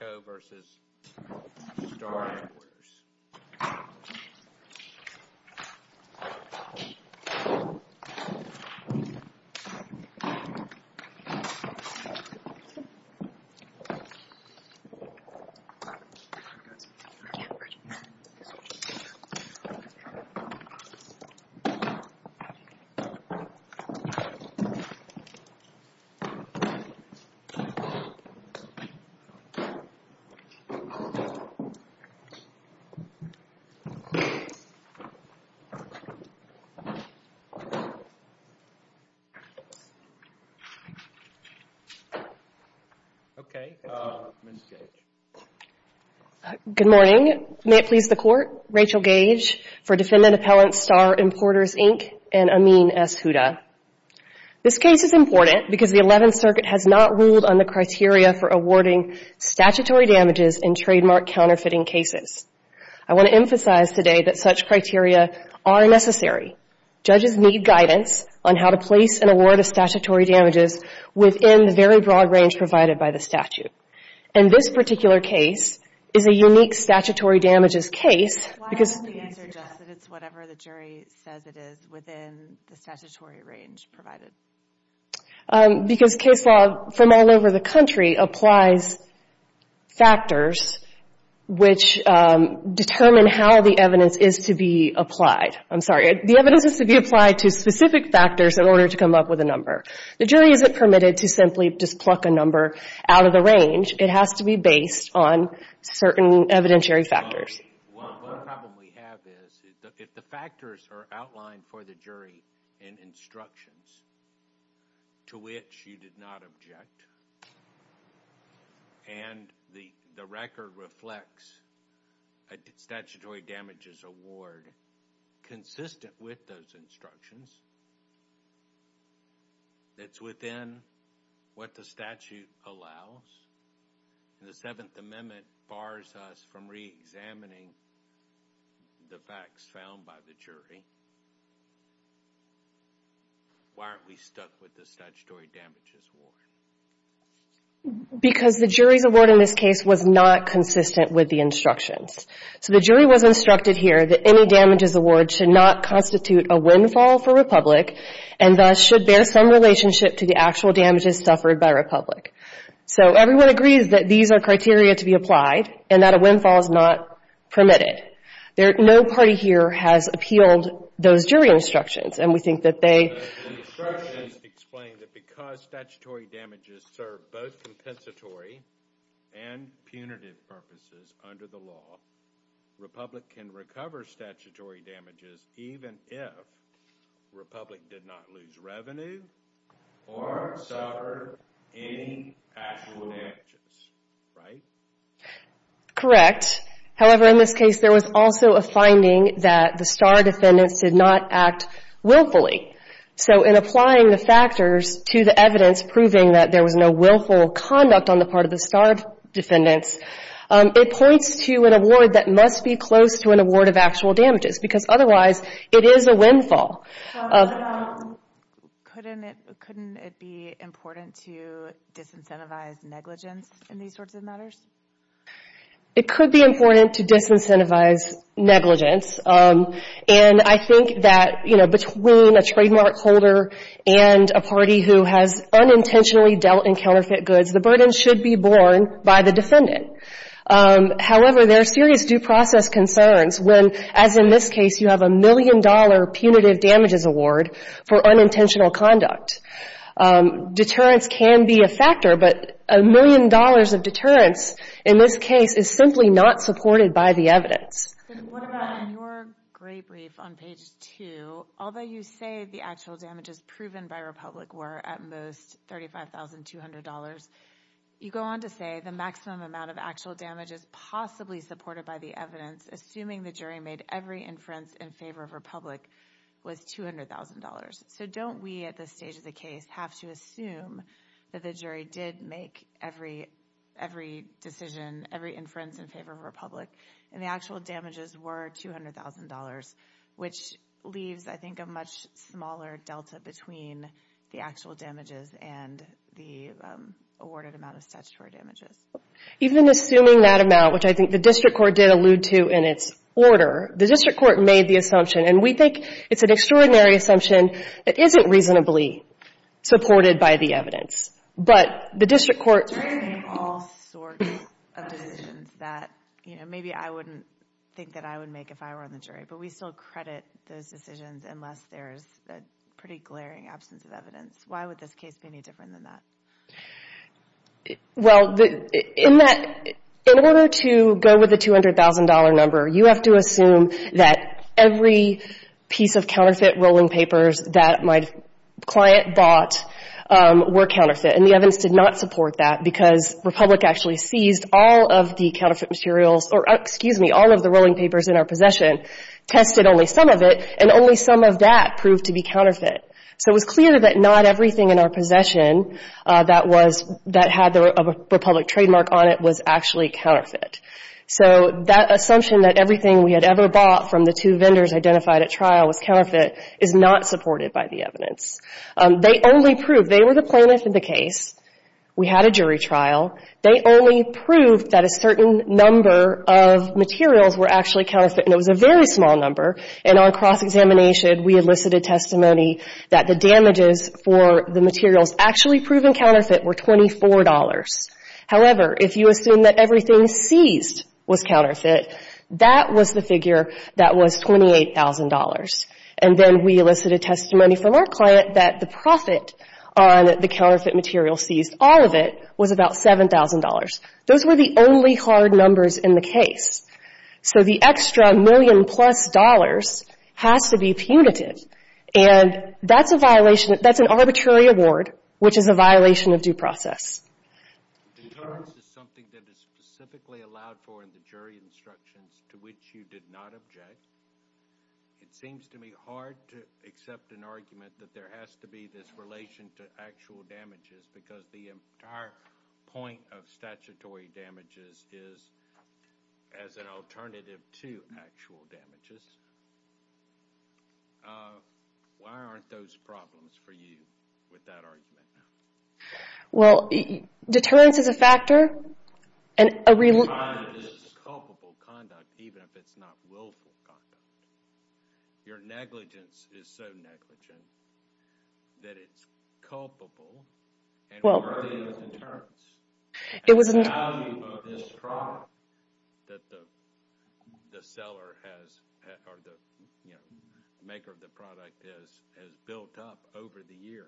L.P. v. Star Importers Good morning. May it please the Court, Rachel Gage for Defendant Appellants, Star Importers, Inc. and Amin S. Huda. This case is important because the Eleventh Circuit has not ruled on the criteria for awarding statutory damages in trademark counterfeiting cases. I want to emphasize today that such criteria are necessary. Judges need guidance on how to place an award of statutory damages within the very broad range provided by the statute. And this particular case is a unique statutory damages case because case law from all over the country applies factors which determine how the evidence is to be applied. I'm sorry, the evidence is to be applied to specific factors in order to come up with a number. The jury isn't permitted to simply just pluck a number out of the range. It has to be based on certain evidentiary factors. Well, the problem we have is if the factors are outlined for the jury in instructions to which you did not object and the record reflects a statutory damages award consistent with those instructions that's within what the statute allows, the Seventh Amendment bars us from reexamining the facts found by the jury. Why aren't we stuck with the statutory damages award? Because the jury's award in this case was not consistent with the instructions. So the jury was instructed here that any damages award should not constitute a windfall for Republic and thus should bear some relationship to the actual damages suffered by Republic. So everyone agrees that these are criteria to be applied and that a windfall is not permitted. No party here has appealed those jury instructions and we think that they... The instructions explain that because statutory damages serve both compensatory and punitive purposes under the law, Republic can recover statutory damages even if Republic did not lose revenue or suffer any actual damages, right? Correct. However, in this case there was also a finding that the STAAR defendants did not act willfully. So in applying the factors to the evidence proving that there was no willful conduct on the part of the STAAR defendants, it points to an award that must be close to an award of actual damages because otherwise it is a windfall. Couldn't it be important to disincentivize negligence in these sorts of matters? It could be important to disincentivize negligence and I think that between a trademark holder and a party who has unintentionally dealt in counterfeit goods, the burden should be However, there are serious due process concerns when, as in this case, you have a million-dollar punitive damages award for unintentional conduct. Deterrence can be a factor, but a million dollars of deterrence in this case is simply not supported by the evidence. What about on your gray brief on page 2, although you say the actual damages proven by Republic were at most $35,200, you go on to say the maximum amount of actual damages possibly supported by the evidence, assuming the jury made every inference in favor of Republic, was $200,000. So don't we at this stage of the case have to assume that the jury did make every decision, every inference in favor of Republic, and the actual damages were $200,000, which leaves, I think, a much smaller delta between the actual damages and the awarded amount of statutory damages? Even assuming that amount, which I think the district court did allude to in its order, the district court made the assumption, and we think it's an extraordinary assumption that isn't reasonably supported by the evidence, but the district court We're going to make all sorts of decisions that maybe I wouldn't think that I would make if I were on the jury, but we still credit those decisions unless there's a pretty glaring absence of evidence. Why would this case be any different than that? Well, in order to go with the $200,000 number, you have to assume that every piece of counterfeit rolling papers that my client bought were counterfeit, and the evidence did not support that because Republic actually seized all of the counterfeit materials, or excuse me, all of the rolling papers in our possession, tested only some of it, and only some of that proved to be counterfeit. So it was clear that not everything in our possession that had the Republic trademark on it was actually counterfeit. So that assumption that everything we had ever bought from the two vendors identified at trial was counterfeit is not supported by the evidence. They only proved, they were the plaintiff in the case, we had a jury trial, they only proved that a certain number of materials were actually counterfeit, and it was a very small number, and on cross-examination we elicited testimony that the damages for the materials actually proven counterfeit were $24. However, if you assume that everything seized was counterfeit, that was the figure that was $28,000, and then we elicited testimony from our client that the profit on the counterfeit material seized, all of it, was about $7,000. Those were the only hard numbers in the case. So the extra million-plus dollars has to be punitive, and that's a violation, that's an arbitrary award, which is a violation of due process. The charge is something that is specifically allowed for in the jury instructions, to which you did not object. It seems to me hard to accept an argument that there has to be this violation to actual damages, because the entire point of statutory damages is as an alternative to actual damages. Why aren't those problems for you with that argument? Well, deterrence is a factor, and a real... Crime is culpable conduct, even if it's not willful conduct. Your negligence is so negligent that it's culpable and worthy of deterrence. The value of this product that the seller has, or the maker of the product has built up over the years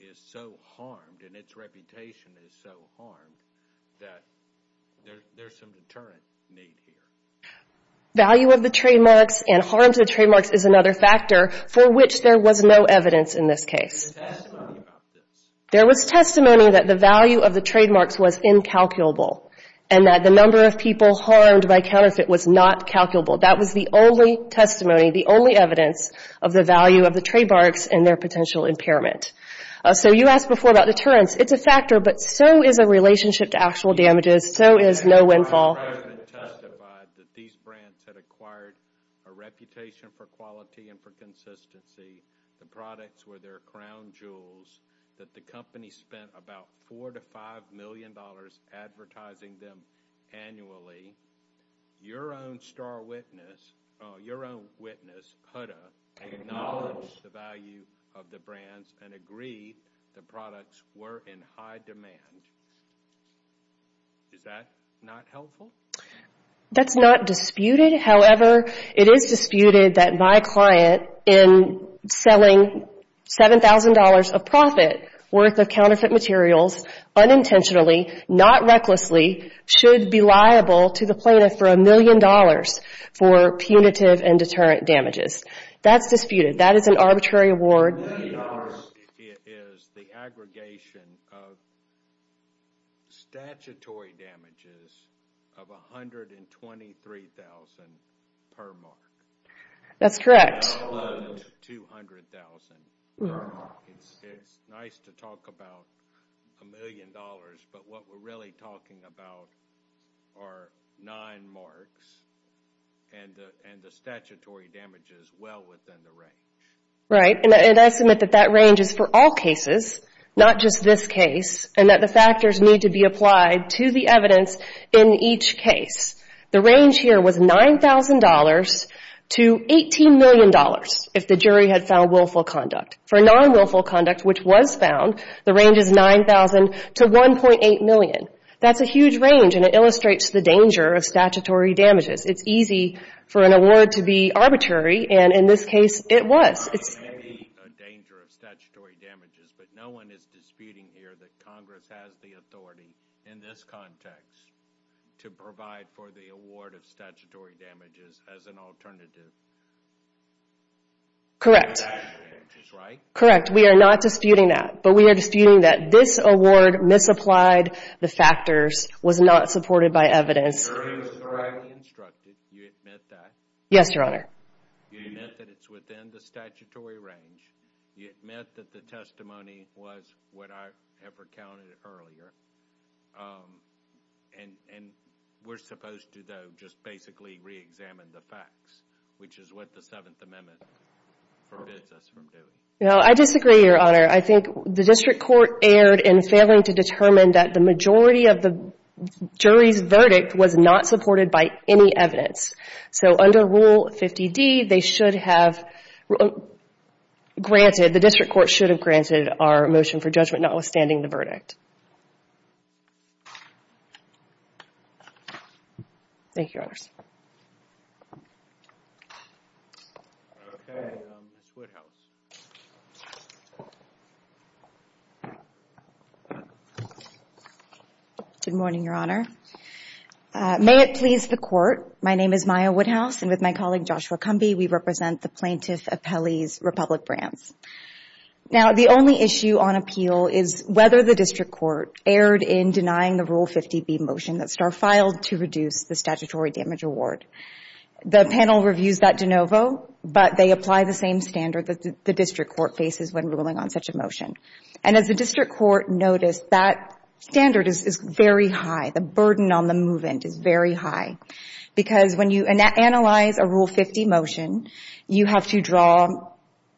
is so harmed, and its reputation is so harmed, that there's some deterrent need here. Value of the trademarks and harm to the trademarks is another factor, for which there was no evidence in this case. There was testimony that the value of the trademarks was incalculable, and that the number of people harmed by counterfeit was not calculable. That was the only testimony, the only evidence of the value of the trademarks and their potential impairment. So you asked before about deterrence. It's a factor, but so is a relationship to actual damages. So is no windfall. The President testified that these brands had acquired a reputation for quality and for consistency. The products were their crown jewels, that the company spent about $4-$5 million advertising them annually. Your own star witness, your own witness, Huda, acknowledged the value of the brands and agreed the products were in high demand. Is that not helpful? That's not disputed. However, it is disputed that my client, in selling $7,000 of profit worth of counterfeit materials, unintentionally, not recklessly, should be liable to the plaintiff for $1,000,000 for punitive and deterrent damages. That's disputed. That is an arbitrary award. $1,000,000 is the aggregation of statutory damages of $123,000 per mark. That's correct. That would include $200,000 per mark. It's nice to talk about $1,000,000, but what we're really talking about are 9 marks and the statutory damages well within the range. Right, and I submit that that range is for all cases, not just this case, and that the factors need to be applied to the evidence in each case. The range here was $9,000 to $18,000,000 if the jury had found willful conduct. For non-willful conduct, which was That's a huge range, and it illustrates the danger of statutory damages. It's easy for an award to be arbitrary, and in this case, it was. There may be a danger of statutory damages, but no one is disputing here that Congress has the authority in this context to provide for the award of statutory damages as an alternative. Correct. For the statutory damages, right? Correct. We are not disputing that, but we are disputing that this award misapplied the factors, was not supported by evidence. The jury was correctly instructed. Do you admit that? Yes, Your Honor. You admit that it's within the statutory range. You admit that the testimony was what I have recounted earlier, and we're supposed to, though, just basically re-examine the facts, which is what the Seventh Amendment forbids us from doing. No, I disagree, Your Honor. I think the district court erred in failing to determine that the majority of the jury's verdict was not supported by any evidence. So under Rule 50D, they should have granted, the district court should have granted our motion for judgment notwithstanding the verdict. Thank you, Your Honors. Okay, Ms. Woodhouse. Good morning, Your Honor. May it please the Court, my name is Maya Woodhouse, and with my colleague Joshua Cumbie, we represent the Plaintiff Appellee's Republic Brands. Now, the only issue on appeal is whether the district court erred in denying the Rule 50B motion that Starr filed to reduce the statutory damage award. The panel reviews that de novo, but they apply the same standard that the district court faces when ruling on such a motion. And as the district court noticed, that standard is very high. The burden on the move-in is very high, because when you analyze a Rule 50 motion, you have to draw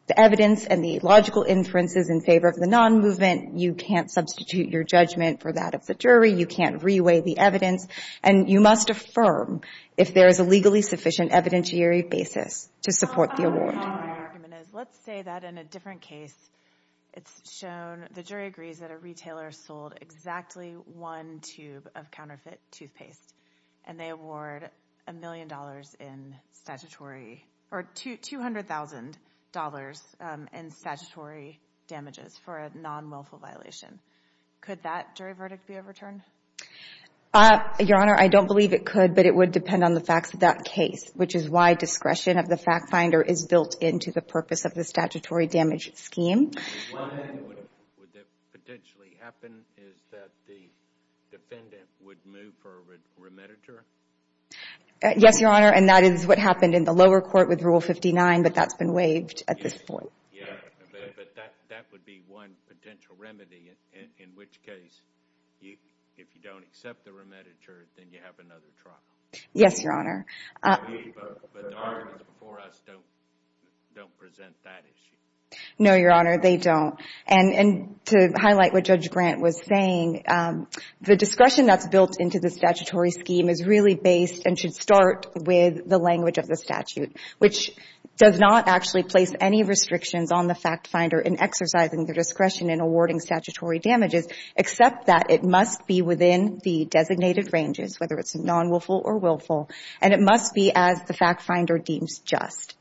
the evidence and the logical inferences in favor of the non-movement. You can't substitute your judgment for that of the jury. You can't reweigh the evidence, and you must affirm if there is a legally sufficient evidentiary basis to support the award. My argument is, let's say that in a different case, it's shown, the jury agrees that a retailer sold exactly one tube of counterfeit toothpaste, and they award a million dollars in statutory, or $200,000 in statutory damages for a non-wilful violation. Could that jury verdict be overturned? Your Honor, I don't believe it could, but it would depend on the facts of that case, which is why discretion of the fact finder is built into the purpose of the statutory damage scheme. One thing that would potentially happen is that the defendant would move for a remediator? Yes, Your Honor, and that is what happened in the lower court with Rule 59, but that's been waived at this point. Yeah, but that would be one potential remedy, in which case, if you don't accept the remediator, then you have another trial. Yes, Your Honor. But the arguments before us don't present that issue. No, Your Honor, they don't. And to highlight what Judge Grant was saying, the discretion that's built into the statutory scheme is really based and should start with the language of the statute, which does not actually place any restrictions on the fact finder in exercising their discretion in awarding statutory damages, except that it must be within the designated ranges, whether it's non-wilful or willful, and it must be as the fact finder deems just.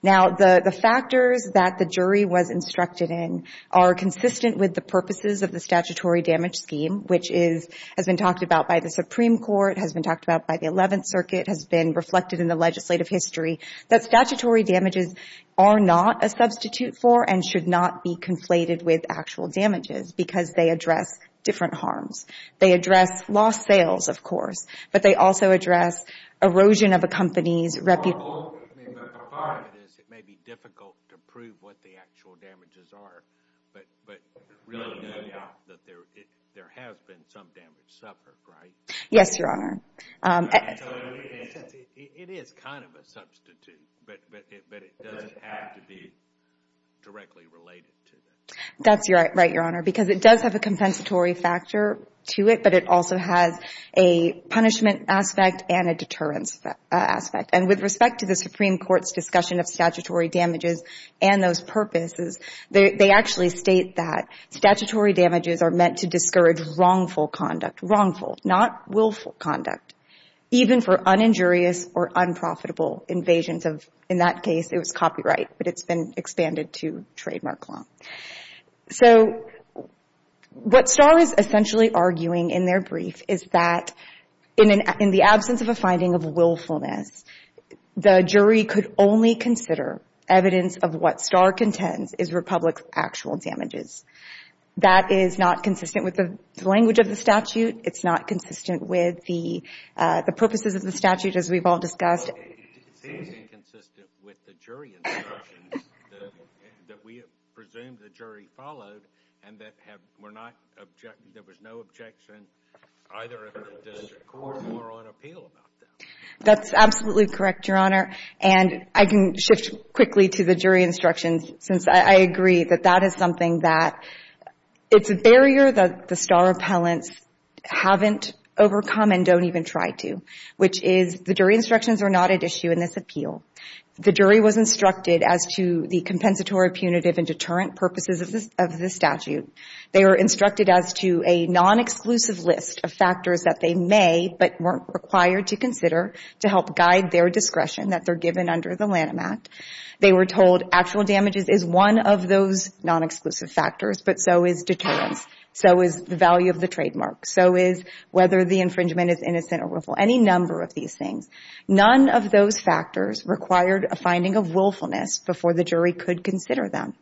Now, the factors that the jury was instructed in are consistent with the purposes of the statutory damage scheme, which has been talked about by the Supreme Court, has been talked about by the Eleventh Circuit, has been reflected in the legislative history, that statutory damages are not a substitute for and should not be conflated with actual damages because they address different harms. They address lost sales, of course, but they also address erosion of a company's reputation. Part of it is it may be difficult to prove what the actual damages are, but really no doubt that there has been some damage suffered, right? Yes, Your Honor. It is kind of a substitute, but it doesn't have to be directly related to that. That's right, Your Honor, because it does have a compensatory factor to it, but it also has a punishment aspect and a deterrence aspect. And with respect to the Supreme Court's discussion of statutory damages and those purposes, they actually state that statutory damages are meant to discourage wrongful conduct, wrongful, not willful conduct, even for uninjurious or unprofitable invasions of, in that case, it was copyright, but it's been expanded to trademark law. So what STAR is essentially arguing in their brief is that in the absence of a finding of willfulness, the jury could only consider evidence of what STAR contends is Republic's actual damages. That is not consistent with the language of the statute. It's not consistent with the purposes of the statute, as we've all discussed. It seems inconsistent with the jury instructions that we have presumed the jury followed and that there was no objection either of the district court or on appeal about that. That's absolutely correct, Your Honor. And I can shift quickly to the jury instructions since I agree that that is something that it's a barrier that the STAR appellants haven't overcome and don't even try to, which is the jury instructions are not at issue in this appeal. The jury was instructed as to the compensatory, punitive, and deterrent purposes of the statute. They were instructed as to a non-exclusive list of factors that they may but weren't required to consider to help guide their discretion that they're given under the Lanham Act. They were told actual damages is one of those non-exclusive factors, but so is deterrence, so is the value of the trademark, so is whether the infringement is innocent or willful, any number of these things. None of those factors required a finding of willfulness before the jury could consider them.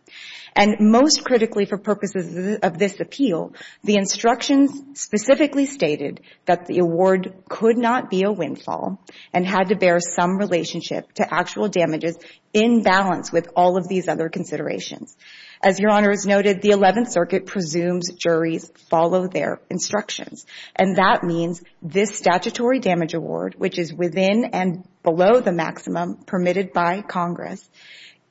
And most critically for purposes of this appeal, the instructions specifically stated that the award could not be a windfall and had to bear some relationship to actual damages in balance with all of these other considerations. As Your Honor has noted, the 11th Circuit presumes juries follow their instructions, and that means this statutory damage award, which is within and below the maximum permitted by Congress,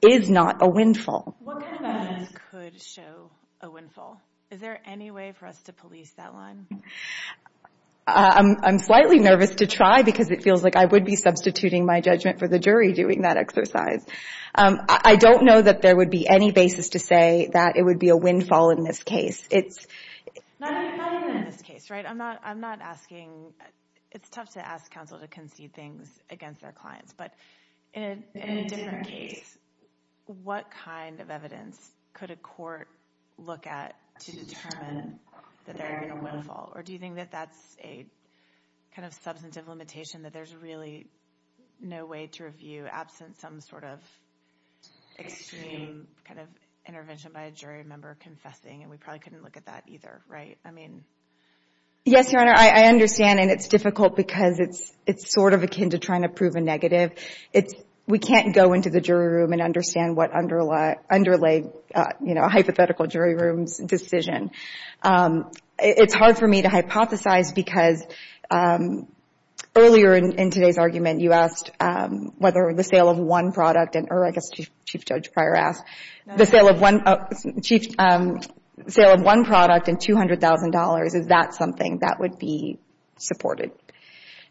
is not a windfall. What kind of evidence could show a windfall? Is there any way for us to police that line? I'm slightly nervous to try because it feels like I would be substituting my judgment for the jury doing that exercise. I don't know that there would be any basis to say that it would be a windfall in this case. Not even in this case, right? I'm not asking. It's tough to ask counsel to concede things against their clients. But in a different case, what kind of evidence could a court look at to determine that they're in a windfall? Or do you think that that's a kind of substantive limitation that there's really no way to review absent some sort of extreme kind of intervention by a jury member confessing, and we probably couldn't look at that either, right? Yes, Your Honor, I understand, and it's difficult because it's sort of akin to trying to prove a negative. We can't go into the jury room and understand what underlay a hypothetical jury room's decision. It's hard for me to hypothesize because earlier in today's argument, you asked whether the sale of one product, or I guess Chief Judge Pryor asked, the sale of one product and $200,000, is that something that would be supported?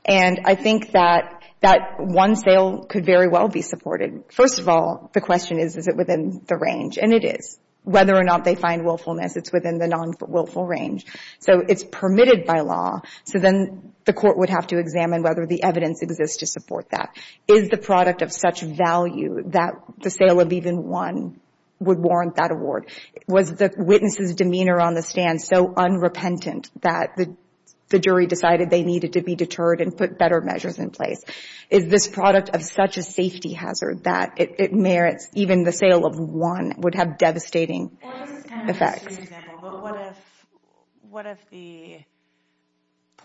And I think that that one sale could very well be supported. First of all, the question is, is it within the range? And it is. Whether or not they find willfulness, it's within the non-willful range. So it's permitted by law. So then the court would have to examine whether the evidence exists to support that. Is the product of such value that the sale of even one would warrant that award? Was the witness's demeanor on the stand so unrepentant that the jury decided they needed to be deterred and put better measures in place? Is this product of such a safety hazard that it merits even the sale of one would have devastating effects? What if the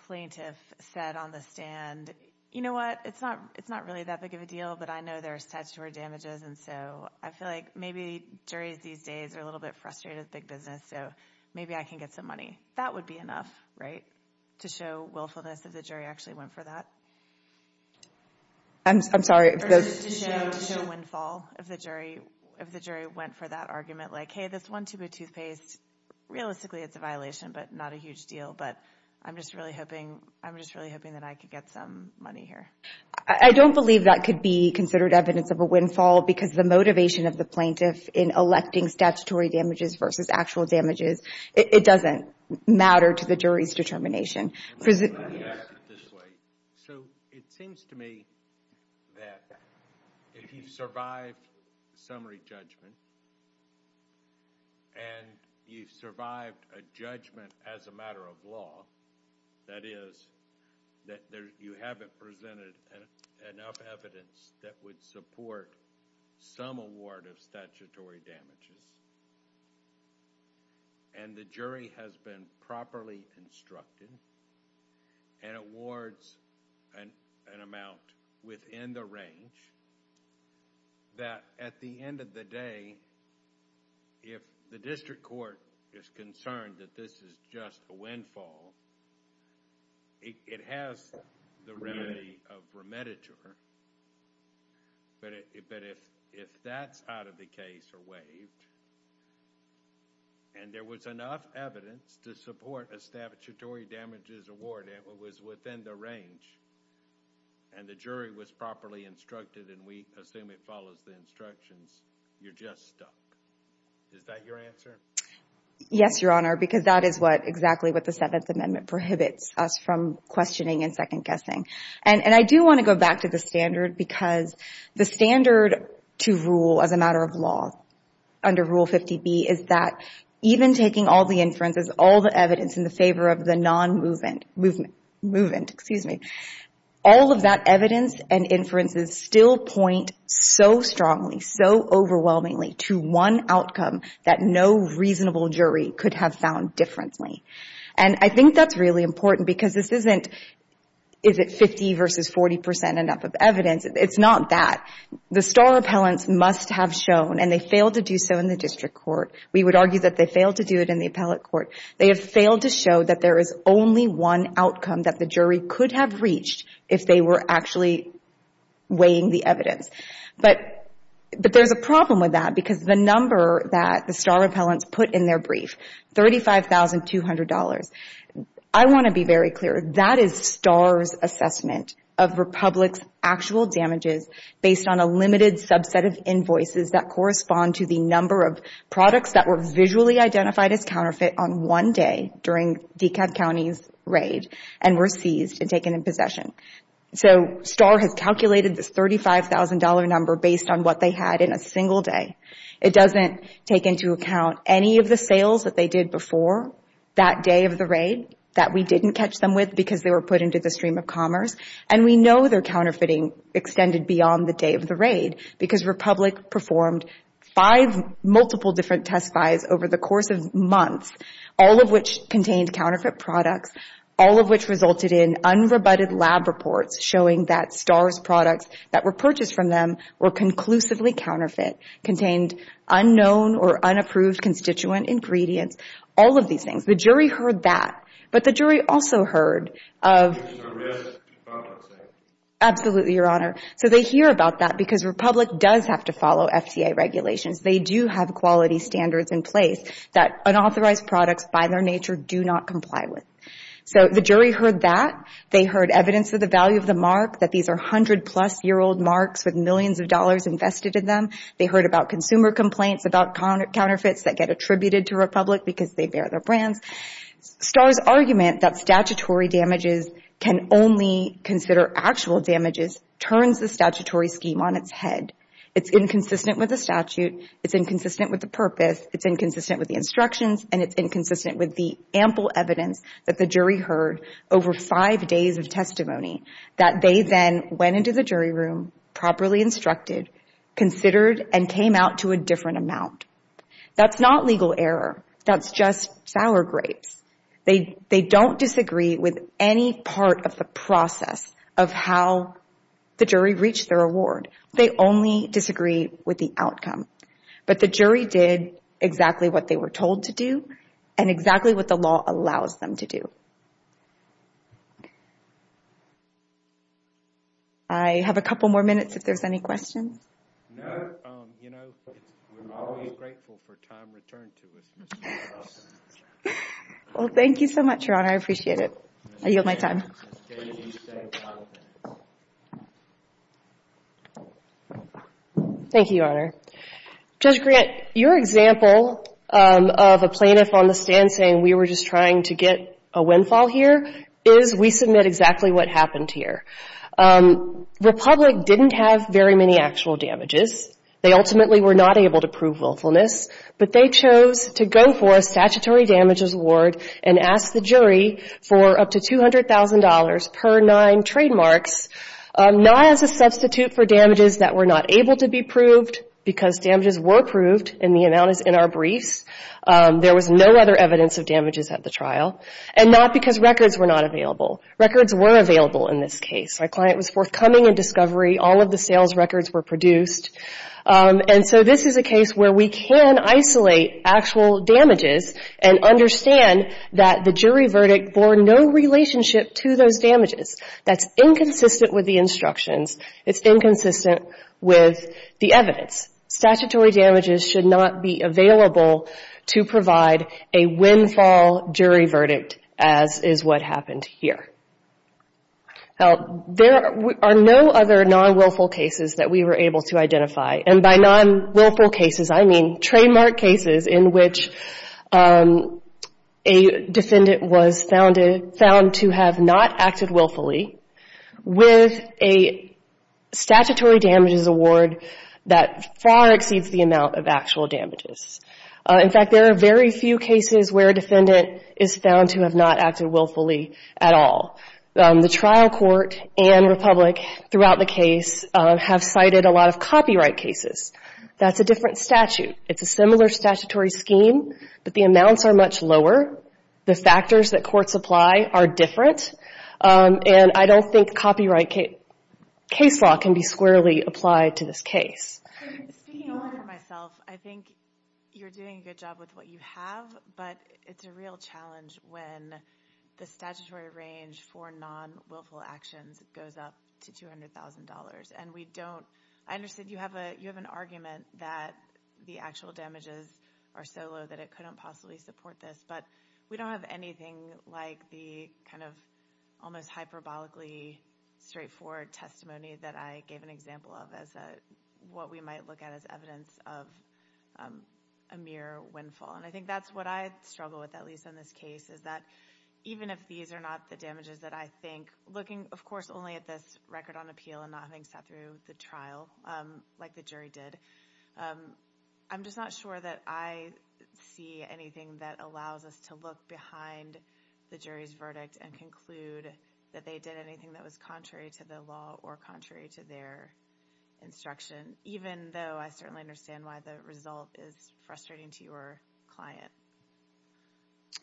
plaintiff said on the stand, you know what, it's not really that big of a deal, but I know there are statutory damages, and so I feel like maybe juries these days are a little bit frustrated with big business, so maybe I can get some money. That would be enough, right, to show willfulness if the jury actually went for that? I'm sorry. To show windfall if the jury went for that argument, like, hey, this one tube of toothpaste, realistically it's a violation but not a huge deal, but I'm just really hoping that I could get some money here. I don't believe that could be considered evidence of a windfall because the motivation of the plaintiff in electing statutory damages versus actual damages, it doesn't matter to the jury's determination. So it seems to me that if you survived summary judgment and you survived a judgment as a matter of law, that is that you haven't presented enough evidence that would support some award of statutory damages, and the jury has been properly instructed and awards an amount within the range that at the end of the day, if the district court is concerned that this is just a windfall, it has the remedy of remediature, but if that's out of the case or waived and there was enough evidence to support a statutory damages award and it was within the range and the jury was properly instructed and we assume it follows the instructions, you're just stuck. Is that your answer? Yes, Your Honor, because that is exactly what the Seventh Amendment prohibits us from questioning and second-guessing. And I do want to go back to the standard because the standard to rule as a matter of law under Rule 50B is that even taking all the inferences, all the evidence in favor of the non-movement, excuse me, all of that evidence and inferences still point so strongly, so overwhelmingly to one outcome that no reasonable jury could have found differently. And I think that's really important because this isn't, is it 50 versus 40 percent enough of evidence? It's not that. The star appellants must have shown, and they failed to do so in the district court. We would argue that they failed to do it in the appellate court. They have failed to show that there is only one outcome that the jury could have reached if they were actually weighing the evidence. But there's a problem with that because the number that the star appellants put in their brief, $35,200, I want to be very clear, that is Star's assessment of Republic's actual damages based on a limited subset of invoices that correspond to the number of products that were visually identified as counterfeit on one day during DeKalb County's raid and were seized and taken in possession. So Star has calculated this $35,000 number based on what they had in a single day. It doesn't take into account any of the sales that they did before that day of the raid that we didn't catch them with because they were put into the stream of commerce. And we know their counterfeiting extended beyond the day of the raid because Republic performed five multiple different test buys over the course of months, all of which contained counterfeit products, all of which resulted in unrebutted lab reports showing that Star's products that were purchased from them were conclusively counterfeit, contained unknown or unapproved constituent ingredients, all of these things. The jury heard that. But the jury also heard of— It was a risk to public safety. Absolutely, Your Honor. So they hear about that because Republic does have to follow FCA regulations. They do have quality standards in place that unauthorized products by their nature do not comply with. So the jury heard that. They heard evidence of the value of the mark, that these are 100-plus-year-old marks with millions of dollars invested in them. They heard about consumer complaints about counterfeits that get attributed to Republic because they bear their brands. Star's argument that statutory damages can only consider actual damages turns the statutory scheme on its head. It's inconsistent with the statute. It's inconsistent with the purpose. It's inconsistent with the instructions. And it's inconsistent with the ample evidence that the jury heard over five days of testimony that they then went into the jury room, properly instructed, considered, and came out to a different amount. That's not legal error. That's just sour grapes. They don't disagree with any part of the process of how the jury reached their award. They only disagree with the outcome. But the jury did exactly what they were told to do and exactly what the law allows them to do. I have a couple more minutes if there's any questions. No. You know, we're always grateful for time returned to us. Well, thank you so much, Your Honor. I appreciate it. I yield my time. Thank you, Your Honor. Judge Grant, your example of a plaintiff on the stand saying we were just trying to get a windfall here is we submit exactly what happened here. Republic didn't have very many actual damages. They ultimately were not able to prove willfulness. But they chose to go for a statutory damages award and ask the jury for up to $200,000 per nine trademarks, not as a substitute for damages that were not able to be proved because damages were proved and the amount is in our briefs. There was no other evidence of damages at the trial and not because records were not available. Records were available in this case. My client was forthcoming in discovery. All of the sales records were produced. And so this is a case where we can isolate actual damages and understand that the jury verdict bore no relationship to those damages. That's inconsistent with the instructions. It's inconsistent with the evidence. Statutory damages should not be available to provide a windfall jury verdict, as is what happened here. Now, there are no other non-willful cases that we were able to identify. And by non-willful cases, I mean trademark cases in which a defendant was found to have not acted willfully with a statutory damages award that far exceeds the amount of actual damages. In fact, there are very few cases where a defendant is found to have not acted willfully at all. The trial court and Republic throughout the case have cited a lot of copyright cases. That's a different statute. It's a similar statutory scheme, but the amounts are much lower. The factors that courts apply are different. And I don't think copyright case law can be squarely applied to this case. Speaking only for myself, I think you're doing a good job with what you have, but it's a real challenge when the statutory range for non-willful actions goes up to $200,000. I understand you have an argument that the actual damages are so low that it couldn't possibly support this, but we don't have anything like the kind of almost hyperbolically straightforward testimony that I gave an example of as what we might look at as evidence of a mere windfall. And I think that's what I struggle with, at least in this case, is that even if these are not the damages that I think, looking, of course, only at this record on appeal and not having sat through the trial like the jury did, I'm just not sure that I see anything that allows us to look behind the jury's verdict and conclude that they did anything that was contrary to the law or contrary to their instruction, even though I certainly understand why the result is frustrating to your client.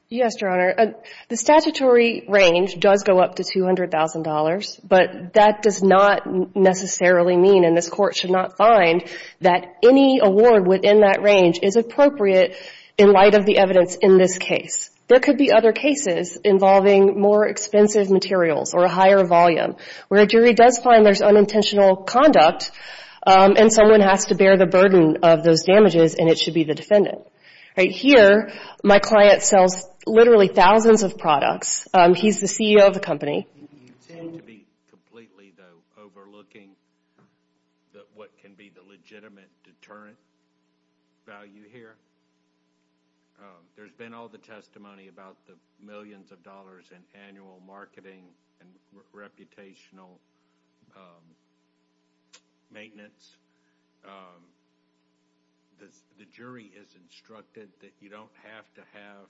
Yes, Your Honor. The statutory range does go up to $200,000, but that does not necessarily mean, and this Court should not find that any award within that range is appropriate in light of the evidence in this case. There could be other cases involving more expensive materials or a higher volume where a jury does find there's unintentional conduct and someone has to bear the burden of those damages and it should be the defendant. Right here, my client sells literally thousands of products. He's the CEO of the company. You seem to be completely, though, overlooking what can be the legitimate deterrent value here. There's been all the testimony about the millions of dollars in annual marketing and reputational maintenance. The jury is instructed that you don't have to have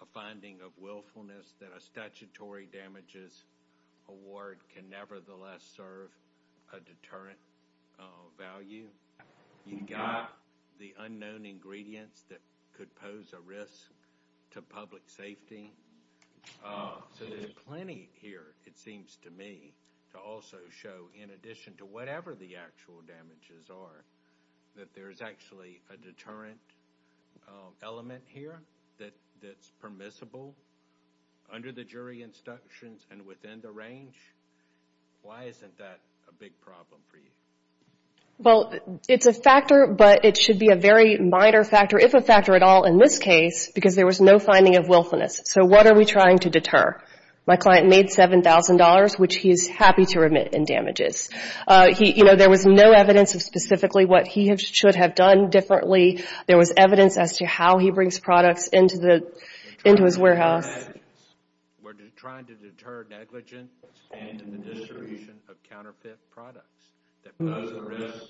a finding of willfulness that a statutory damages award can nevertheless serve a deterrent value. You've got the unknown ingredients that could pose a risk to public safety. So there's plenty here, it seems to me, to also show, in addition to whatever the actual damages are, that there's actually a deterrent element here that's permissible under the jury instructions and within the range. Why isn't that a big problem for you? Well, it's a factor, but it should be a very minor factor, if a factor at all in this case, because there was no finding of willfulness. So what are we trying to deter? My client made $7,000, which he's happy to remit in damages. There was no evidence of specifically what he should have done differently. There was evidence as to how he brings products into his warehouse. We're trying to deter negligence and the distribution of counterfeit products that pose a risk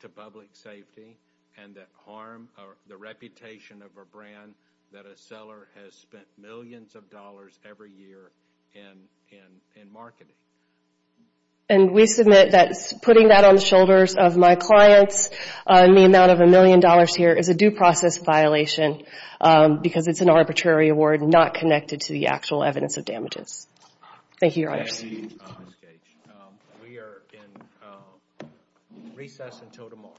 to public safety and that harm the reputation of a brand that a seller has spent millions of dollars every year in marketing. And we submit that putting that on the shoulders of my clients in the amount of $1 million here is a due process violation because it's an arbitrary award not connected to the actual evidence of damages. Thank you, Your Honors. We are in recess until tomorrow. All rise.